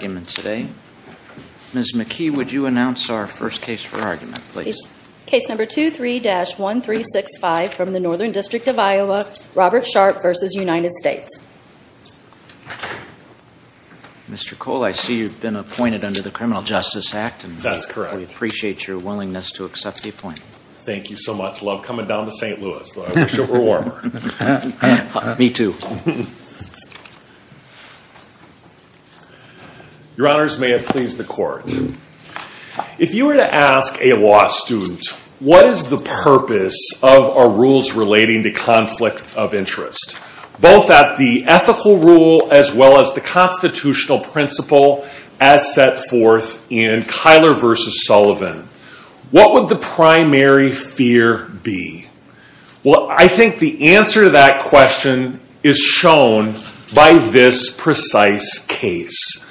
Ms. McKee, would you announce our first case for argument, please? Case number 23-1365 from the Northern District of Iowa, Robert Sharp v. United States. Mr. Cole, I see you've been appointed under the Criminal Justice Act. That's correct. We appreciate your willingness to accept the appointment. Thank you so much. Love coming down to St. Louis, though I wish it were warmer. Me too. Your Honors, may it please the Court. If you were to ask a law student, what is the purpose of our rules relating to conflict of interest? Both at the ethical rule as well as the constitutional principle as set forth in Kyler v. Sullivan. What would the primary fear be? Well, I think the answer to that question is shown by this precise case.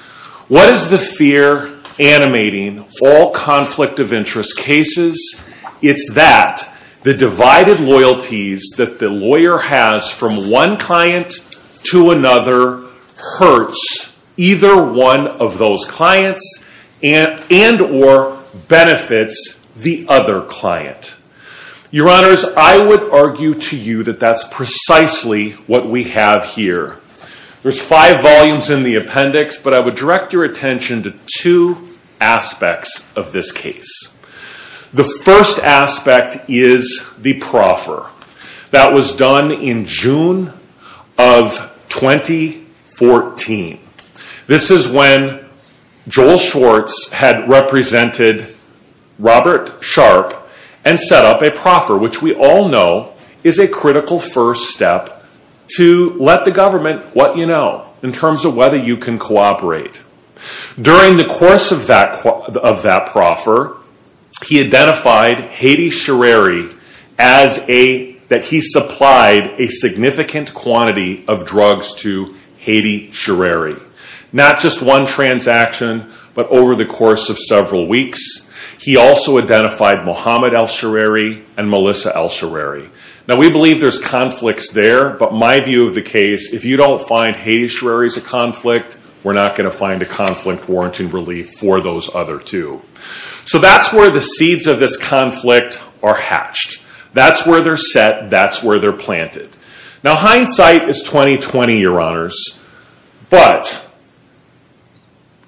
What is the fear animating all conflict of interest cases? It's that the divided loyalties that the lawyer has from one client to another hurts either one of those clients and or benefits the other client. Your Honors, I would argue to you that that's precisely what we have here. There's five volumes in the appendix, but I would direct your attention to two aspects of this case. The first aspect is the proffer. That was done in June of 2014. This is when Joel Schwartz had represented Robert Sharp and set up a proffer, which we all know is a critical first step to let the government what you know in terms of whether you can cooperate. During the course of that proffer, he identified Hedy Shareri as a, that he supplied a significant quantity of drugs to Hedy Shereri. Not just one transaction, but over the course of several weeks. He also identified Mohamed El Shereri and Melissa El Shereri. Now we believe there's conflicts there, but my view of the case, if you don't find Hedy Shereri as a conflict, we're not going to find a conflict warrant in relief for those other two. So that's where the seeds of this conflict are hatched. That's where they're set. That's where they're planted. Now hindsight is 20-20, Your Honors, but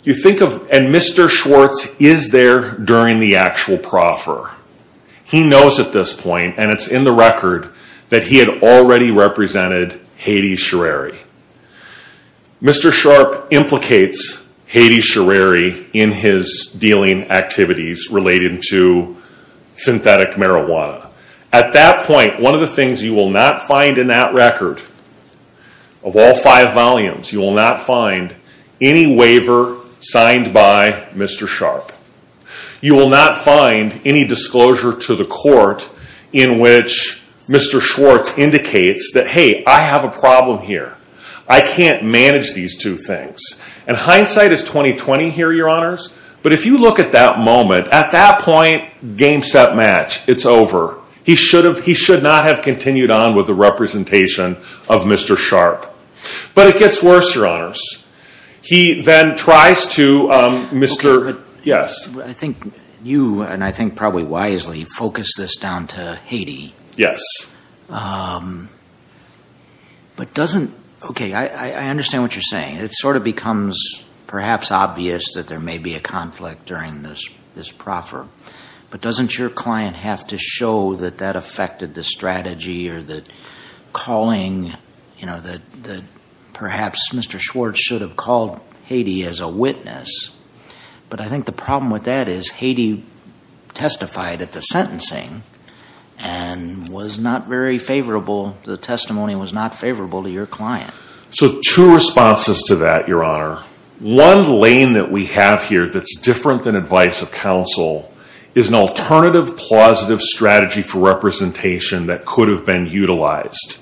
you think of, and Mr. Schwartz is there during the actual proffer. He knows at this point, and it's in the record, that he had already represented Hedy Shereri. Mr. Sharp implicates Hedy Shereri in his dealing activities related to synthetic marijuana. At that point, one of the things you will not find in that record, of all five volumes, you will not find any waiver signed by Mr. Sharp. You will not find any disclosure to the court in which Mr. Schwartz indicates that, hey, I have a problem here. I can't manage these two things. And hindsight is 20-20 here, Your Honors, but if you look at that moment, at that point, game, set, match. It's over. He should not have continued on with the representation of Mr. Sharp. But it gets worse, Your Honors. He then tries to, Mr. Yes? I think you, and I think probably wisely, focus this down to Hedy. Yes. But doesn't, okay, I understand what you're saying. It sort of becomes perhaps obvious that there may be a conflict during this proffer. But doesn't your client have to show that that affected the strategy or the calling, you know, that perhaps Mr. Schwartz should have called Hedy as a witness? But I think the problem with that is Hedy testified at the sentencing and was not very favorable. The testimony was not favorable to your client. So two responses to that, Your Honor. One lane that we have here that's different than advice of counsel is an alternative, positive strategy for representation that could have been utilized.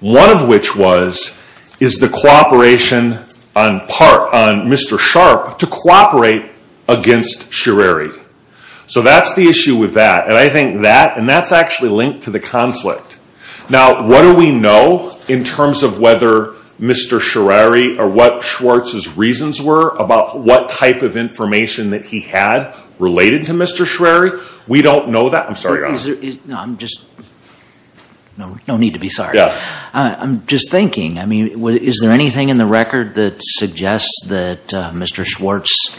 One of which was, is the cooperation on part, on Mr. Sharp to cooperate against Schirrari. So that's the issue with that. And I think that, and that's actually linked to the conflict. Now, what do we know in terms of whether Mr. Schirrari or what Schwartz's reasons were about what type of information that he had related to Mr. Schirrari? We don't know that. I'm sorry, Your Honor. No, I'm just, no need to be sorry. Yeah. I'm just thinking, I mean, is there anything in the record that suggests that Mr. Schwartz,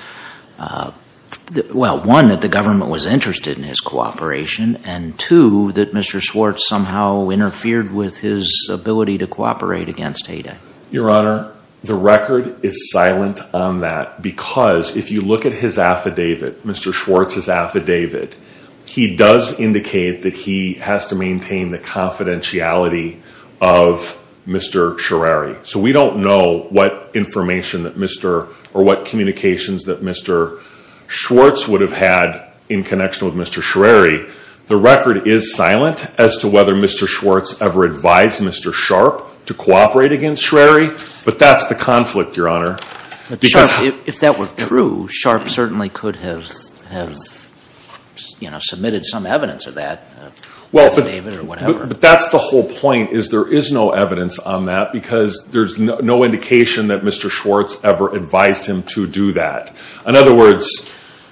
well, one, that the government was interested in his cooperation, and two, that Mr. Schwartz somehow interfered with his ability to cooperate against Hayden? Your Honor, the record is silent on that because if you look at his affidavit, Mr. Schwartz's affidavit, he does indicate that he has to maintain the confidentiality of Mr. Schirrari. So we don't know what information that Mr., or what communications that Mr. Schwartz would have had in connection with Mr. Schirrari. The record is silent as to whether Mr. Schwartz ever advised Mr. Sharpe to cooperate against Schirrari, but that's the conflict, Your Honor. But Sharpe, if that were true, Sharpe certainly could have, you know, submitted some evidence of that affidavit or whatever. But that's the whole point, is there is no evidence on that because there's no indication that Mr. Schwartz ever advised him to do that. In other words,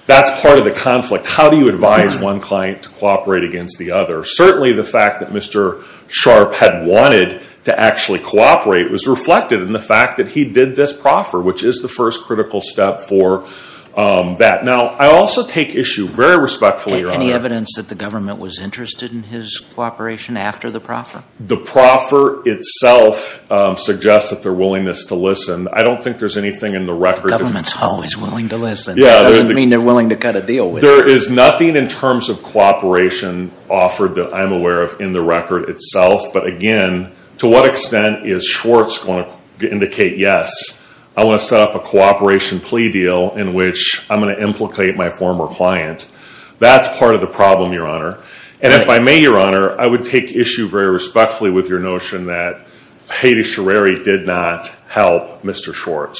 that's part of the conflict. How do you advise one client to cooperate against the other? Certainly the fact that Mr. Sharpe had wanted to actually cooperate was reflected in the fact that he did this proffer, which is the first critical step for that. Now, I also take issue, very respectfully, Your Honor. Is there any evidence that the government was interested in his cooperation after the proffer? The proffer itself suggests that their willingness to listen. I don't think there's anything in the record. The government's always willing to listen. It doesn't mean they're willing to cut a deal with you. There is nothing in terms of cooperation offered that I'm aware of in the record itself. But again, to what extent is Schwartz going to indicate, yes, I want to set up a cooperation plea deal in which I'm going to implicate my former client? That's part of the problem, Your Honor. And if I may, Your Honor, I would take issue very respectfully with your notion that Haiti-Shareri did not help Mr. Sharpe.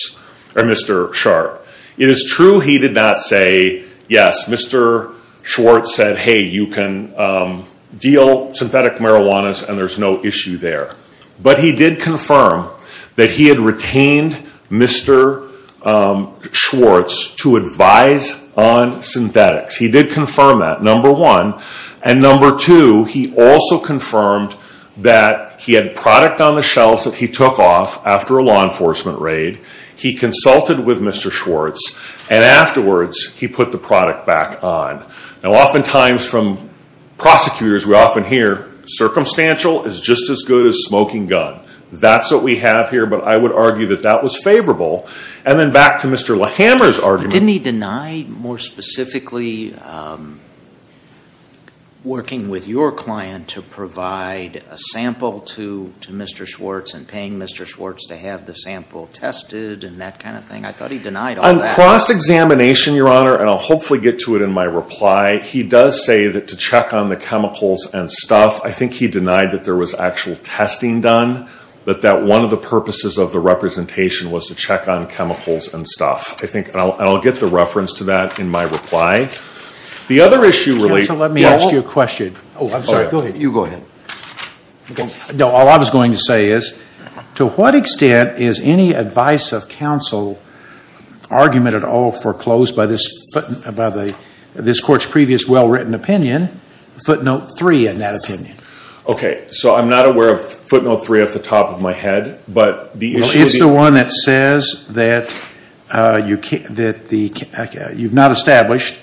It is true he did not say, yes, Mr. Schwartz said, hey, you can deal synthetic marijuanas and there's no issue there. But he did confirm that he had retained Mr. Schwartz to advise on synthetics. He did confirm that, number one. And number two, he also confirmed that he had product on the shelves that he took off after a law enforcement raid. He consulted with Mr. Schwartz. And afterwards, he put the product back on. Now, oftentimes from prosecutors, we often hear, circumstantial is just as good as smoking gun. That's what we have here. But I would argue that that was favorable. And then back to Mr. Lahammer's argument. But didn't he deny, more specifically, working with your client to provide a sample to Mr. Schwartz and paying Mr. Schwartz to have the sample tested and that kind of thing? I thought he denied all that. It's a cross-examination, Your Honor. And I'll hopefully get to it in my reply. He does say that to check on the chemicals and stuff, I think he denied that there was actual testing done, but that one of the purposes of the representation was to check on chemicals and stuff. I think I'll get the reference to that in my reply. The other issue really – Counsel, let me ask you a question. Oh, I'm sorry. Go ahead. You go ahead. All I was going to say is, to what extent is any advice of counsel argument at all foreclosed by this Court's previous well-written opinion, footnote 3 in that opinion? Okay, so I'm not aware of footnote 3 off the top of my head. It's the one that says that you've not established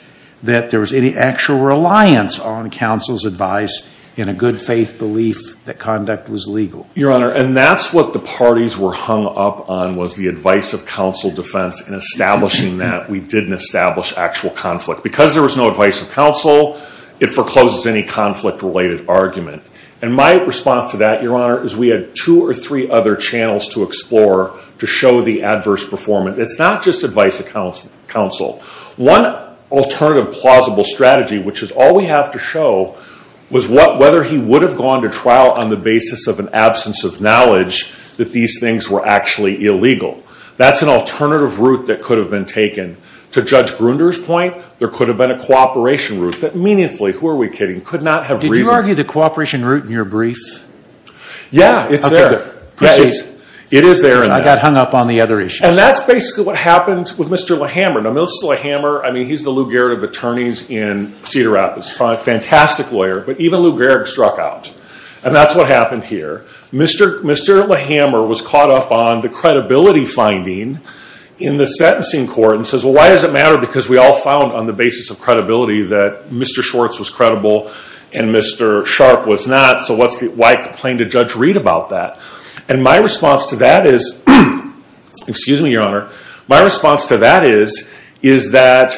that there was any actual reliance on counsel's advice in a good-faith belief that conduct was legal. Your Honor, and that's what the parties were hung up on was the advice of counsel defense in establishing that we didn't establish actual conflict. Because there was no advice of counsel, it forecloses any conflict-related argument. And my response to that, Your Honor, is we had two or three other channels to explore to show the adverse performance. It's not just advice of counsel. One alternative plausible strategy, which is all we have to show, was whether he would have gone to trial on the basis of an absence of knowledge that these things were actually illegal. That's an alternative route that could have been taken. To Judge Grunder's point, there could have been a cooperation route that meaningfully – who are we kidding – could not have reasoned – Do you argue the cooperation route in your brief? Yeah, it's there. It is there. I got hung up on the other issues. And that's basically what happened with Mr. LeHammer. Now, Mr. LeHammer, I mean, he's the Lou Gehrig of attorneys in Cedar Rapids. A fantastic lawyer. But even Lou Gehrig struck out. And that's what happened here. Mr. LeHammer was caught up on the credibility finding in the sentencing court and says, Well, why does it matter? Because we all found on the basis of credibility that Mr. Schwartz was credible and Mr. Sharp was not. So why complain to Judge Reed about that? And my response to that is – excuse me, Your Honor – my response to that is, is that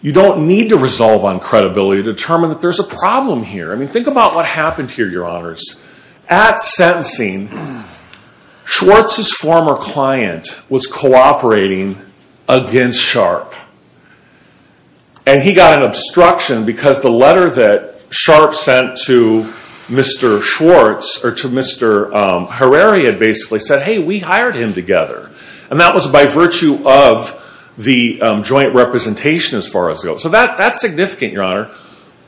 you don't need to resolve on credibility to determine that there's a problem here. I mean, think about what happened here, Your Honors. At sentencing, Schwartz's former client was cooperating against Sharp. And he got an obstruction because the letter that Sharp sent to Mr. Schwartz, or to Mr. Herrera, basically, said, Hey, we hired him together. And that was by virtue of the joint representation, as far as it goes. So that's significant, Your Honor.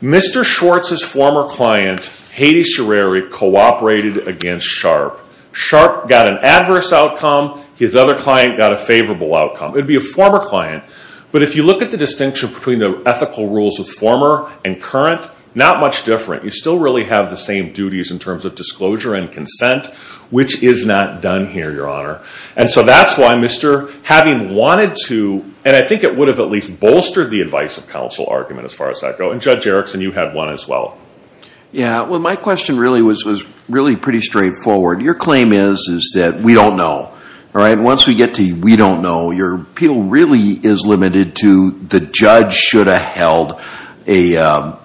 Mr. Schwartz's former client, Hades Scherreri, cooperated against Sharp. Sharp got an adverse outcome. His other client got a favorable outcome. It would be a former client. But if you look at the distinction between the ethical rules of former and current, not much different. You still really have the same duties in terms of disclosure and consent, which is not done here, Your Honor. And so that's why, Mr., having wanted to, and I think it would have at least bolstered the advice of counsel argument, as far as that goes. And Judge Erickson, you had one as well. Yeah. Well, my question really was pretty straightforward. Your claim is that we don't know. Once we get to we don't know, your appeal really is limited to the judge should have held an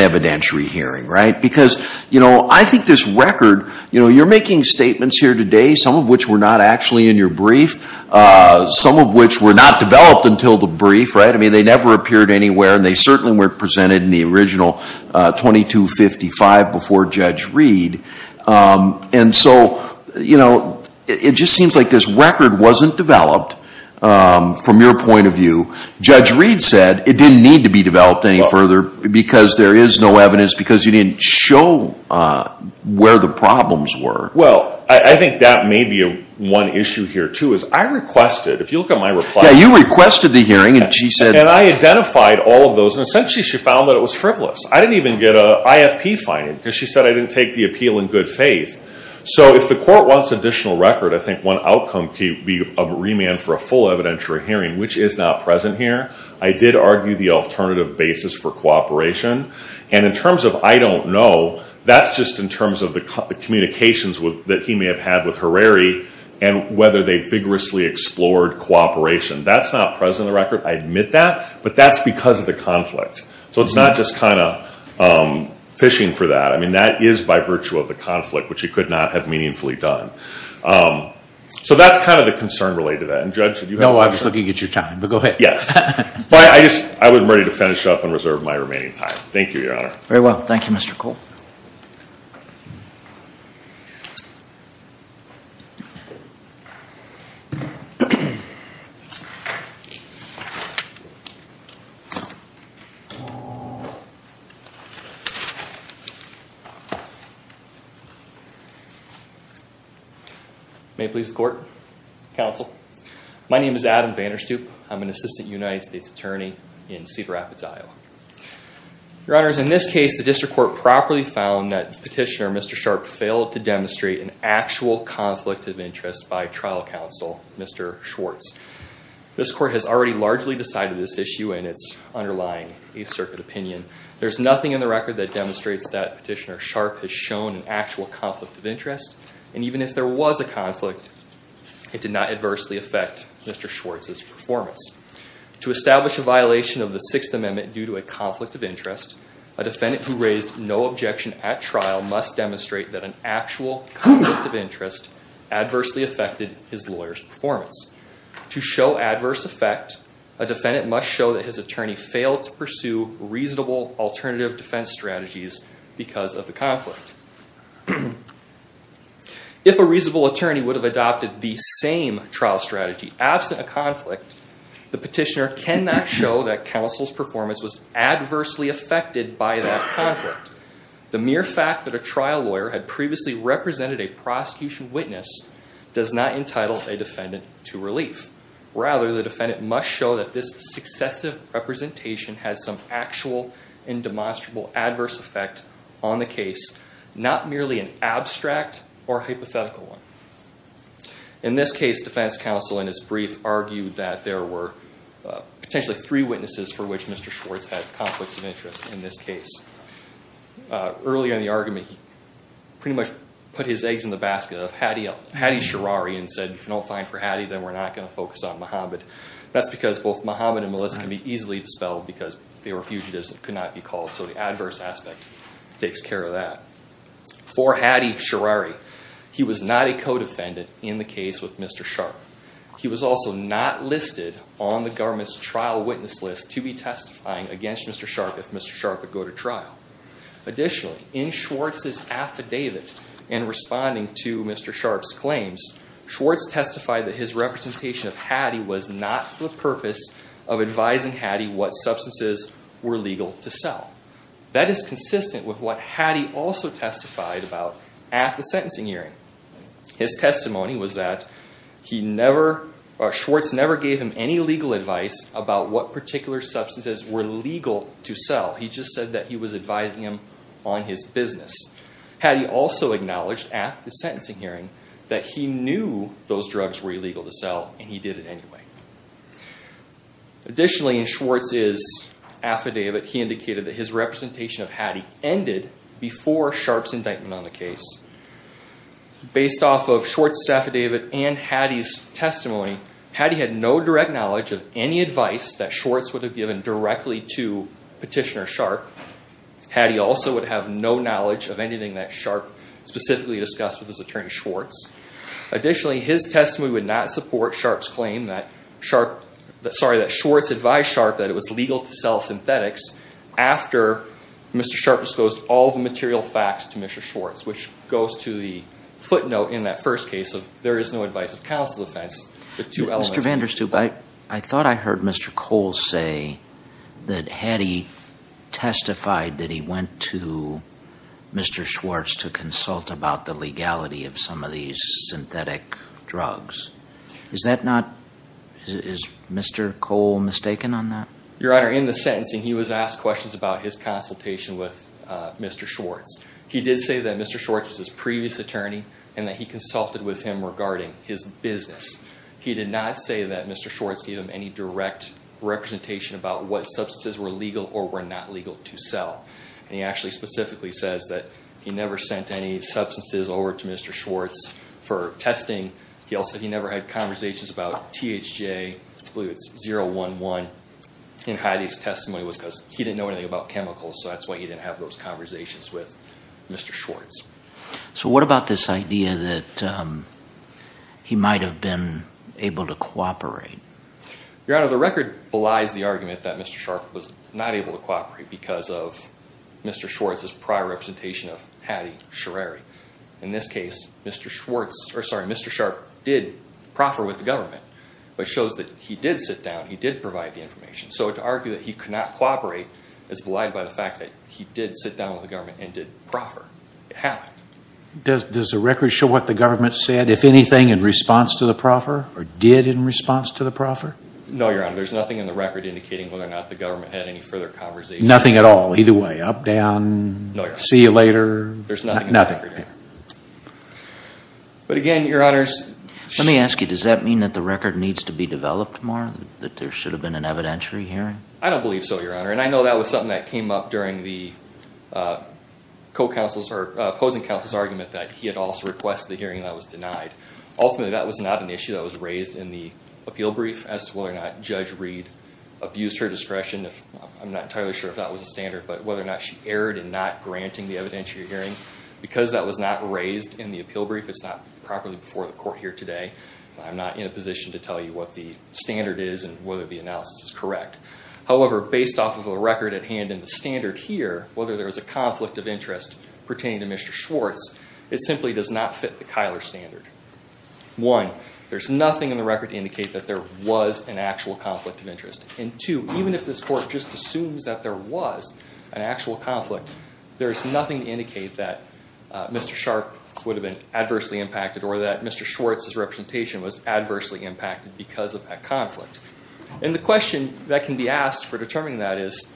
evidentiary hearing, right? Because, you know, I think this record, you know, you're making statements here today, some of which were not actually in your brief, some of which were not developed until the brief, right? I mean, they never appeared anywhere, and they certainly weren't presented in the original 2255 before Judge Reed. And so, you know, it just seems like this record wasn't developed from your point of view. Judge Reed said it didn't need to be developed any further because there is no evidence, because you didn't show where the problems were. Well, I think that may be one issue here, too, is I requested, if you look at my reply. Yeah, you requested the hearing, and she said. And I identified all of those, and essentially she found that it was frivolous. I didn't even get an IFP finding because she said I didn't take the appeal in good faith. So if the court wants additional record, I think one outcome could be a remand for a full evidentiary hearing, which is not present here. I did argue the alternative basis for cooperation. And in terms of I don't know, that's just in terms of the communications that he may have had with Herreri and whether they vigorously explored cooperation. That's not present in the record. I admit that, but that's because of the conflict. So it's not just kind of fishing for that. I mean, that is by virtue of the conflict, which he could not have meaningfully done. So that's kind of the concern related to that. And Judge, did you have a question? No, I was looking at your time. But go ahead. Yes. But I was ready to finish up and reserve my remaining time. Thank you, Your Honor. Very well. Thank you, Mr. Cole. May it please the court. Counsel. My name is Adam Vanderstoop. I'm an assistant United States attorney in Cedar Rapids, Iowa. Your Honors, in this case, the district court properly found that petitioner, Mr. Sharp, failed to demonstrate an actual conflict of interest by trial counsel, Mr. Schwartz. This court has already largely decided this issue in its underlying East Circuit opinion. There's nothing in the record that demonstrates that petitioner, Sharp, has shown an actual conflict of interest. And even if there was a conflict, it did not adversely affect Mr. Schwartz's performance. To establish a violation of the Sixth Amendment due to a conflict of interest, a defendant who raised no objection at trial must demonstrate that an actual conflict of interest adversely affected his lawyer's performance. To show adverse effect, a defendant must show that his attorney failed to pursue reasonable alternative defense strategies because of the conflict. If a reasonable attorney would have adopted the same trial strategy absent a conflict, the petitioner cannot show that counsel's performance was adversely affected by that conflict. The mere fact that a trial lawyer had previously represented a prosecution witness does not entitle a defendant to relief. Rather, the defendant must show that this successive representation had some actual and demonstrable adverse effect on the case, not merely an abstract or hypothetical one. In this case, defense counsel in his brief argued that there were potentially three witnesses for which Mr. Schwartz had conflicts of interest in this case. Earlier in the argument, he pretty much put his eggs in the basket of Hattie Sherrari and said, if you don't find for Hattie, then we're not going to focus on Muhammad. That's because both Muhammad and Melissa can be easily dispelled because they were fugitives and could not be called. So the adverse aspect takes care of that. For Hattie Sherrari, he was not a co-defendant in the case with Mr. Sharp. He was also not listed on the government's trial witness list to be testifying against Mr. Sharp if Mr. Sharp would go to trial. Additionally, in Schwartz's affidavit in responding to Mr. Sharp's claims, Schwartz testified that his representation of Hattie was not for the purpose of advising Hattie what substances were legal to sell. That is consistent with what Hattie also testified about at the sentencing hearing. His testimony was that Schwartz never gave him any legal advice about what particular substances were legal to sell. He just said that he was advising him on his business. Hattie also acknowledged at the sentencing hearing that he knew those drugs were illegal to sell and he did it anyway. Additionally, in Schwartz's affidavit, he indicated that his representation of Hattie ended before Sharp's indictment on the case. Based off of Schwartz's affidavit and Hattie's testimony, Hattie had no direct knowledge of any advice that Schwartz would have given directly to Petitioner Sharp. Hattie also would have no knowledge of anything that Sharp specifically discussed with his attorney, Schwartz. Additionally, his testimony would not support Sharp's claim that Schwartz advised Sharp that it was legal to sell synthetics after Mr. Sharp disclosed all the material facts to Mr. Schwartz. Which goes to the footnote in that first case of there is no advice of counsel defense. Mr. Vanderstoop, I thought I heard Mr. Cole say that Hattie testified that he went to Mr. Schwartz to consult about the legality of some of these synthetic drugs. Is that not, is Mr. Cole mistaken on that? Your Honor, in the sentencing he was asked questions about his consultation with Mr. Schwartz. He did say that Mr. Schwartz was his previous attorney and that he consulted with him regarding his business. He did not say that Mr. Schwartz gave him any direct representation about what substances were legal or were not legal to sell. And he actually specifically says that he never sent any substances over to Mr. Schwartz for testing. He also said he never had conversations about THJ, I believe it's 011. And Hattie's testimony was because he didn't know anything about chemicals, so that's why he didn't have those conversations with Mr. Schwartz. So what about this idea that he might have been able to cooperate? Your Honor, the record belies the argument that Mr. Sharp was not able to cooperate because of Mr. Schwartz's prior representation of Hattie Sherreri. In this case, Mr. Sharp did proffer with the government, which shows that he did sit down, he did provide the information. So to argue that he could not cooperate is belied by the fact that he did sit down with the government and did proffer. It happened. Does the record show what the government said, if anything, in response to the proffer? Or did in response to the proffer? No, Your Honor. There's nothing in the record indicating whether or not the government had any further conversations. Nothing at all? Either way, up, down, see you later? There's nothing in the record. But again, Your Honors. Let me ask you, does that mean that the record needs to be developed more? That there should have been an evidentiary hearing? I don't believe so, Your Honor. And I know that was something that came up during the opposing counsel's argument that he had also requested the hearing and that was denied. Ultimately, that was not an issue that was raised in the appeal brief as to whether or not Judge Reed abused her discretion. I'm not entirely sure if that was a standard, but whether or not she erred in not granting the evidentiary hearing. Because that was not raised in the appeal brief, it's not properly before the Court here today. I'm not in a position to tell you what the standard is and whether the analysis is correct. However, based off of the record at hand and the standard here, whether there was a conflict of interest pertaining to Mr. Schwartz, it simply does not fit the Kyler standard. One, there's nothing in the record to indicate that there was an actual conflict of interest. And two, even if this Court just assumes that there was an actual conflict, there's nothing to indicate that Mr. Sharp would have been adversely impacted or that Mr. Schwartz's representation was adversely impacted because of that conflict. And the question that can be asked for determining that is,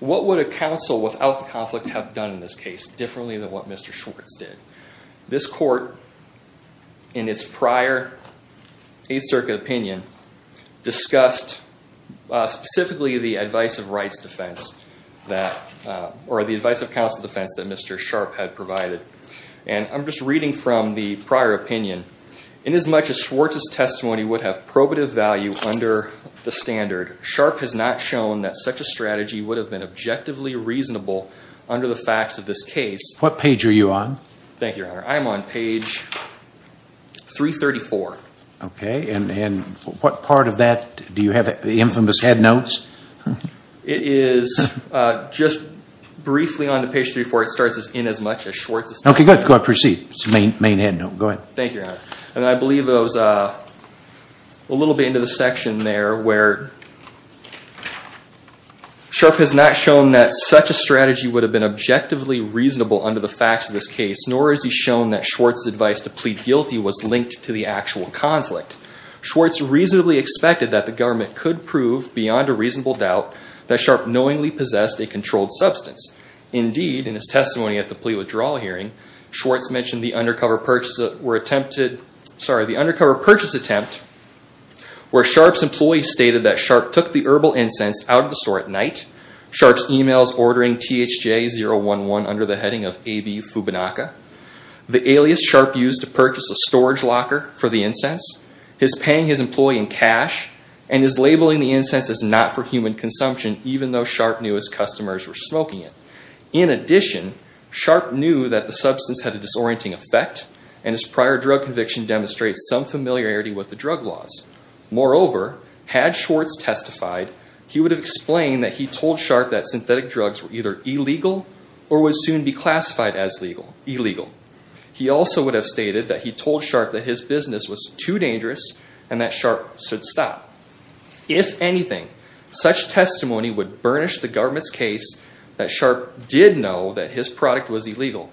what would a counsel without the conflict have done in this case differently than what Mr. Schwartz did? This Court, in its prior Eighth Circuit opinion, discussed specifically the advice of rights defense or the advice of counsel defense that Mr. Sharp had provided. And I'm just reading from the prior opinion. Inasmuch as Schwartz's testimony would have probative value under the standard, Sharp has not shown that such a strategy would have been objectively reasonable under the facts of this case. What page are you on? Thank you, Your Honor. I'm on page 334. Okay. And what part of that do you have, the infamous head notes? It is just briefly on to page 34. It starts as inasmuch as Schwartz's testimony. Okay, good. Go ahead. Proceed. It's the main head note. Go ahead. Thank you, Your Honor. And I believe it was a little bit into the section there where Sharp has not shown that such a strategy would have been objectively reasonable under the facts of this case, nor has he shown that Schwartz's advice to plead guilty was linked to the actual conflict. Schwartz reasonably expected that the government could prove, beyond a reasonable doubt, that Sharp knowingly possessed a controlled substance. Indeed, in his testimony at the plea withdrawal hearing, Schwartz mentioned the undercover purchase attempt where Sharp's employee stated that Sharp took the herbal incense out of the store at night, Sharp's emails ordering THJ011 under the heading of AB Fubinaca, the alias Sharp used to purchase a storage locker for the incense, his paying his employee in cash, and his labeling the incense as not for human consumption, even though Sharp knew his customers were smoking it. In addition, Sharp knew that the substance had a disorienting effect and his prior drug conviction demonstrates some familiarity with the drug laws. Moreover, had Schwartz testified, he would have explained that he told Sharp that synthetic drugs were either illegal or would soon be classified as illegal. He also would have stated that he told Sharp that his business was too dangerous and that Sharp should stop. If anything, such testimony would burnish the government's case that Sharp did know that his product was illegal.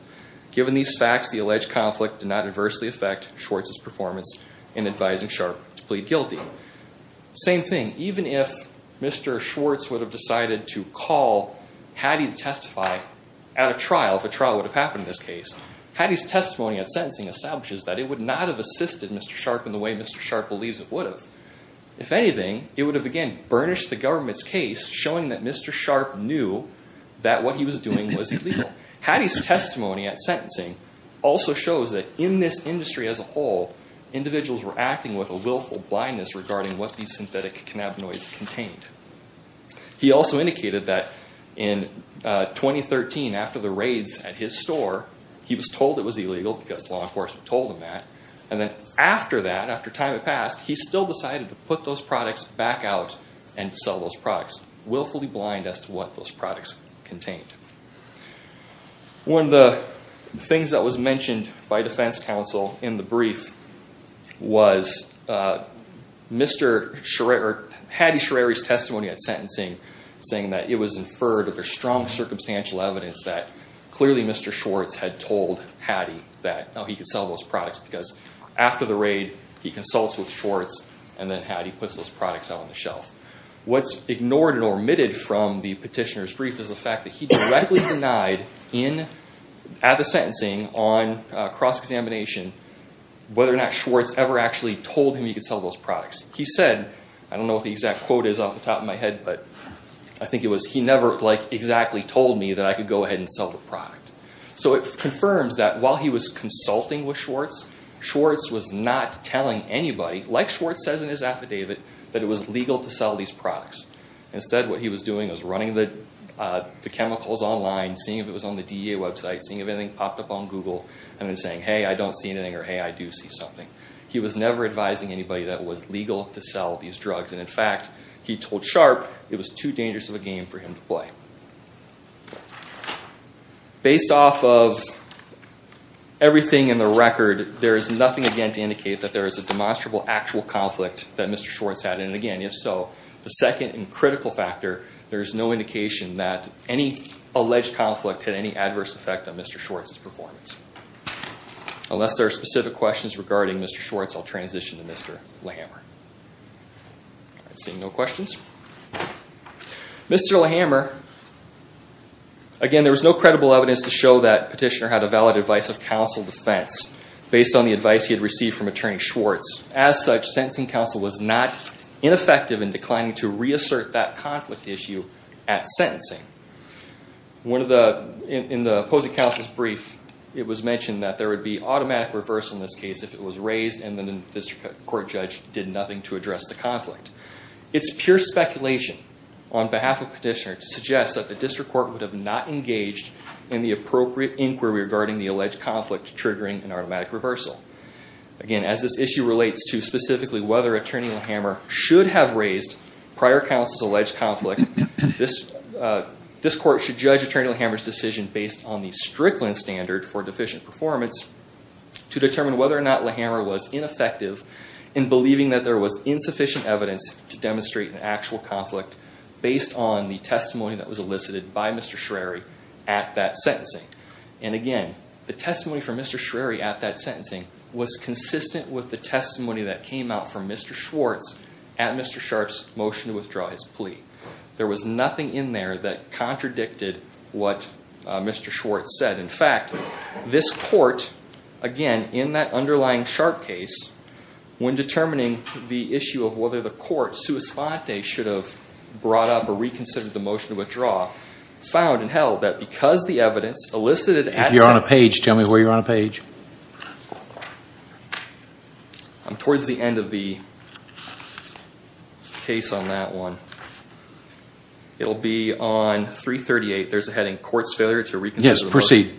Given these facts, the alleged conflict did not adversely affect Schwartz's performance in advising Sharp to plead guilty. Same thing, even if Mr. Schwartz would have decided to call Hattie to testify at a trial, if a trial would have happened in this case, Hattie's testimony at sentencing establishes that it would not have assisted Mr. Sharp in the way Mr. Sharp believes it would have. If anything, it would have, again, burnished the government's case showing that Mr. Sharp knew that what he was doing was illegal. Given that, Hattie's testimony at sentencing also shows that in this industry as a whole, individuals were acting with a willful blindness regarding what these synthetic cannabinoids contained. He also indicated that in 2013, after the raids at his store, he was told it was illegal because law enforcement told him that, and then after that, after time had passed, he still decided to put those products back out and sell those products, willfully blind as to what those products contained. One of the things that was mentioned by defense counsel in the brief was Hattie Shrary's testimony at sentencing saying that it was inferred or there's strong circumstantial evidence that clearly Mr. Schwartz had told Hattie that he could sell those products because after the raid, he consults with Schwartz, and then Hattie puts those products out on the shelf. What's ignored or omitted from the petitioner's brief is the fact that he directly denied at the sentencing on cross-examination whether or not Schwartz ever actually told him he could sell those products. He said, I don't know what the exact quote is off the top of my head, but I think it was, he never exactly told me that I could go ahead and sell the product. It confirms that while he was consulting with Schwartz, Schwartz was not telling anybody, like Schwartz says in his affidavit, that it was legal to sell these products. Instead, what he was doing was running the chemicals online, seeing if it was on the DEA website, seeing if anything popped up on Google, and then saying, hey, I don't see anything, or hey, I do see something. He was never advising anybody that it was legal to sell these drugs. In fact, he told Sharp it was too dangerous of a game for him to play. Based off of everything in the record, there is nothing again to indicate that there is a demonstrable, actual conflict that Mr. Schwartz had, and again, if so, the second and critical factor, there is no indication that any alleged conflict had any adverse effect on Mr. Schwartz's performance. Unless there are specific questions regarding Mr. Schwartz, I'll transition to Mr. Lahammer. All right, seeing no questions. Mr. Lahammer, again, there was no credible evidence to show that Petitioner had a valid advice of counsel defense, based on the advice he had received from Attorney Schwartz. As such, sentencing counsel was not ineffective in declining to reassert that conflict issue at sentencing. In the opposing counsel's brief, it was mentioned that there would be automatic reversal in this case if it was raised and the district court judge did nothing to address the conflict. It's pure speculation on behalf of Petitioner to suggest that the district court would have not engaged in the appropriate inquiry regarding the alleged conflict triggering an automatic reversal. Again, as this issue relates to specifically whether Attorney Lahammer should have raised prior counsel's alleged conflict, this court should judge Attorney Lahammer's decision based on the Strickland standard for deficient performance to determine whether or not Lahammer was ineffective in believing that there was insufficient evidence to demonstrate an actual conflict based on the testimony that was elicited by Mr. Shrary at that sentencing. And again, the testimony from Mr. Shrary at that sentencing was consistent with the testimony that came out from Mr. Schwartz at Mr. Sharp's motion to withdraw his plea. There was nothing in there that contradicted what Mr. Schwartz said. In fact, this court, again, in that underlying Sharp case, when determining the issue of whether the court sua sponte should have brought up or reconsidered the motion to withdraw, found and held that because the evidence elicited at If you're on a page, tell me where you're on a page. I'm towards the end of the case on that one. It'll be on 338. There's a heading, Courts Failure to Reconsider the Motion.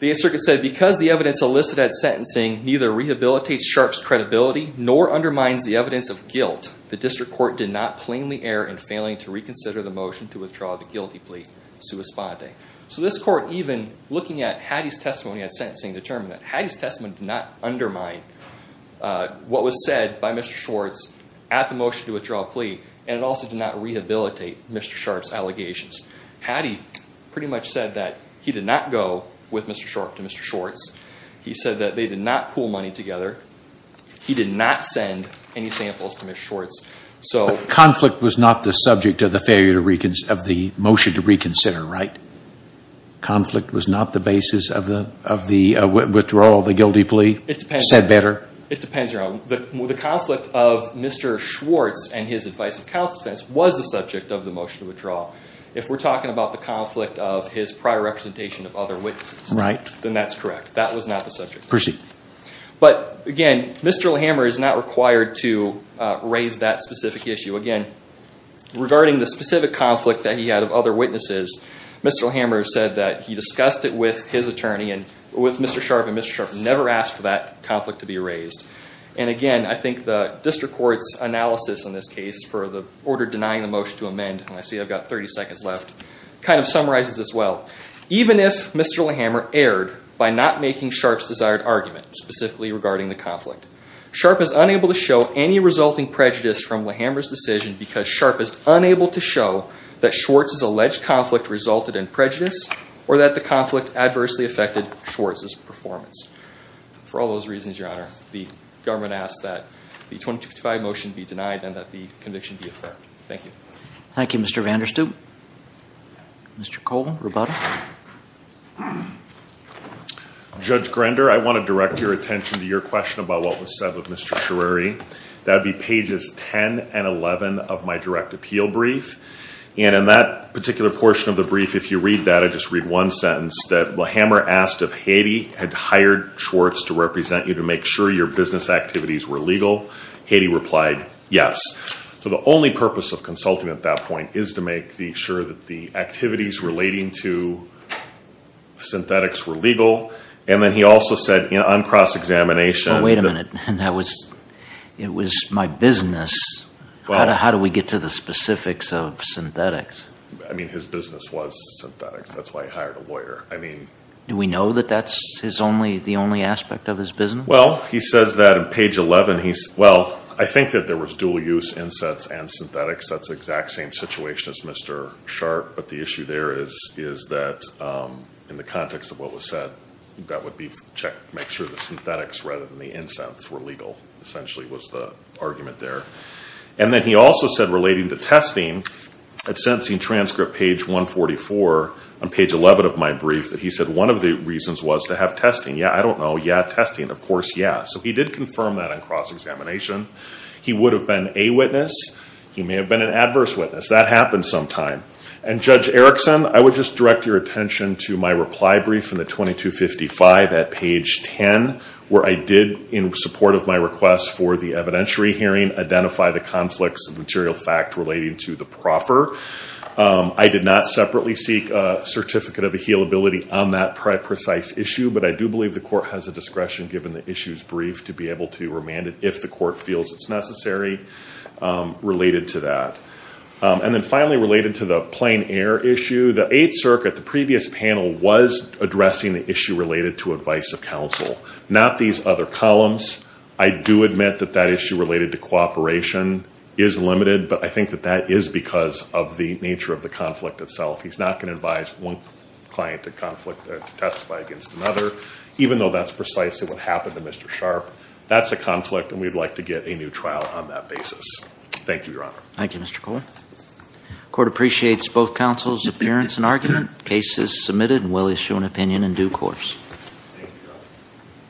The 8th Circuit said, Because the evidence elicited at sentencing neither rehabilitates Sharp's credibility nor undermines the evidence of guilt, the District Court did not plainly err in failing to reconsider the motion to withdraw the guilty plea sua sponte. So this court, even looking at Hattie's testimony at sentencing, determined that Hattie's testimony did not undermine what was said by Mr. Schwartz at the motion to withdraw a plea, and it also did not rehabilitate Mr. Sharp's allegations. Hattie pretty much said that he did not go with Mr. Sharp to Mr. Schwartz. He said that they did not pool money together. He did not send any samples to Mr. Schwartz. Conflict was not the subject of the motion to reconsider, right? Conflict was not the basis of the withdrawal of the guilty plea? It depends. Said better? It depends. The conflict of Mr. Schwartz and his advice of counsel defense was the subject of the motion to withdraw. If we're talking about the conflict of his prior representation of other witnesses, then that's correct. That was not the subject. Proceed. But, again, Mr. O'Hammer is not required to raise that specific issue. Again, regarding the specific conflict that he had of other witnesses, Mr. O'Hammer said that he discussed it with his attorney and with Mr. Sharp, and Mr. Sharp never asked for that conflict to be raised. And, again, I think the district court's analysis in this case for the order denying the motion to amend, and I see I've got 30 seconds left, kind of summarizes this well. Even if Mr. O'Hammer erred by not making Sharp's desired argument, specifically regarding the conflict, Sharp is unable to show any resulting prejudice from O'Hammer's decision because Sharp is unable to show that Schwartz's alleged conflict resulted in prejudice or that the conflict adversely affected Schwartz's performance. For all those reasons, Your Honor, the government asks that the 2055 motion be denied and that the conviction be affirmed. Thank you. Thank you, Mr. Vander Stoop. Mr. Colvin, rubato. Judge Grender, I want to direct your attention to your question about what was said with Mr. Chereri. That would be pages 10 and 11 of my direct appeal brief. And in that particular portion of the brief, if you read that, I just read one sentence, that O'Hammer asked if Haiti had hired Schwartz to represent you to make sure your business activities were legal. Haiti replied yes. So the only purpose of consulting at that point is to make sure that the activities relating to synthetics were legal. And then he also said on cross-examination that it was my business. How do we get to the specifics of synthetics? I mean, his business was synthetics. That's why he hired a lawyer. Do we know that that's the only aspect of his business? Well, he says that on page 11. Well, I think that there was dual-use insets and synthetics. That's the exact same situation as Mr. Sharp, but the issue there is that in the context of what was said, that would make sure the synthetics rather than the insets were legal, essentially, was the argument there. And then he also said relating to testing, at sentencing transcript page 144 on page 11 of my brief, that he said one of the reasons was to have testing. Yeah, I don't know. Yeah, testing. Of course, yeah. So he did confirm that on cross-examination. He would have been a witness. He may have been an adverse witness. That happens sometime. And Judge Erickson, I would just direct your attention to my reply brief in the 2255 at page 10, where I did, in support of my request for the evidentiary hearing, identify the conflicts of material fact relating to the proffer. I did not separately seek a certificate of ahealability on that precise issue, but I do believe the court has the discretion, given the issue's brief, to be able to remand it if the court feels it's necessary related to that. And then finally, related to the plain air issue, the Eighth Circuit, the previous panel was addressing the issue related to advice of counsel, not these other columns. I do admit that that issue related to cooperation is limited, but I think that that is because of the nature of the conflict itself. He's not going to advise one client to testify against another, even though that's precisely what happened to Mr. Sharp. That's a conflict, and we'd like to get a new trial on that basis. Thank you, Your Honor. Thank you, Mr. Kohler. The court appreciates both counsel's appearance and argument. The case is submitted and will issue an opinion in due course.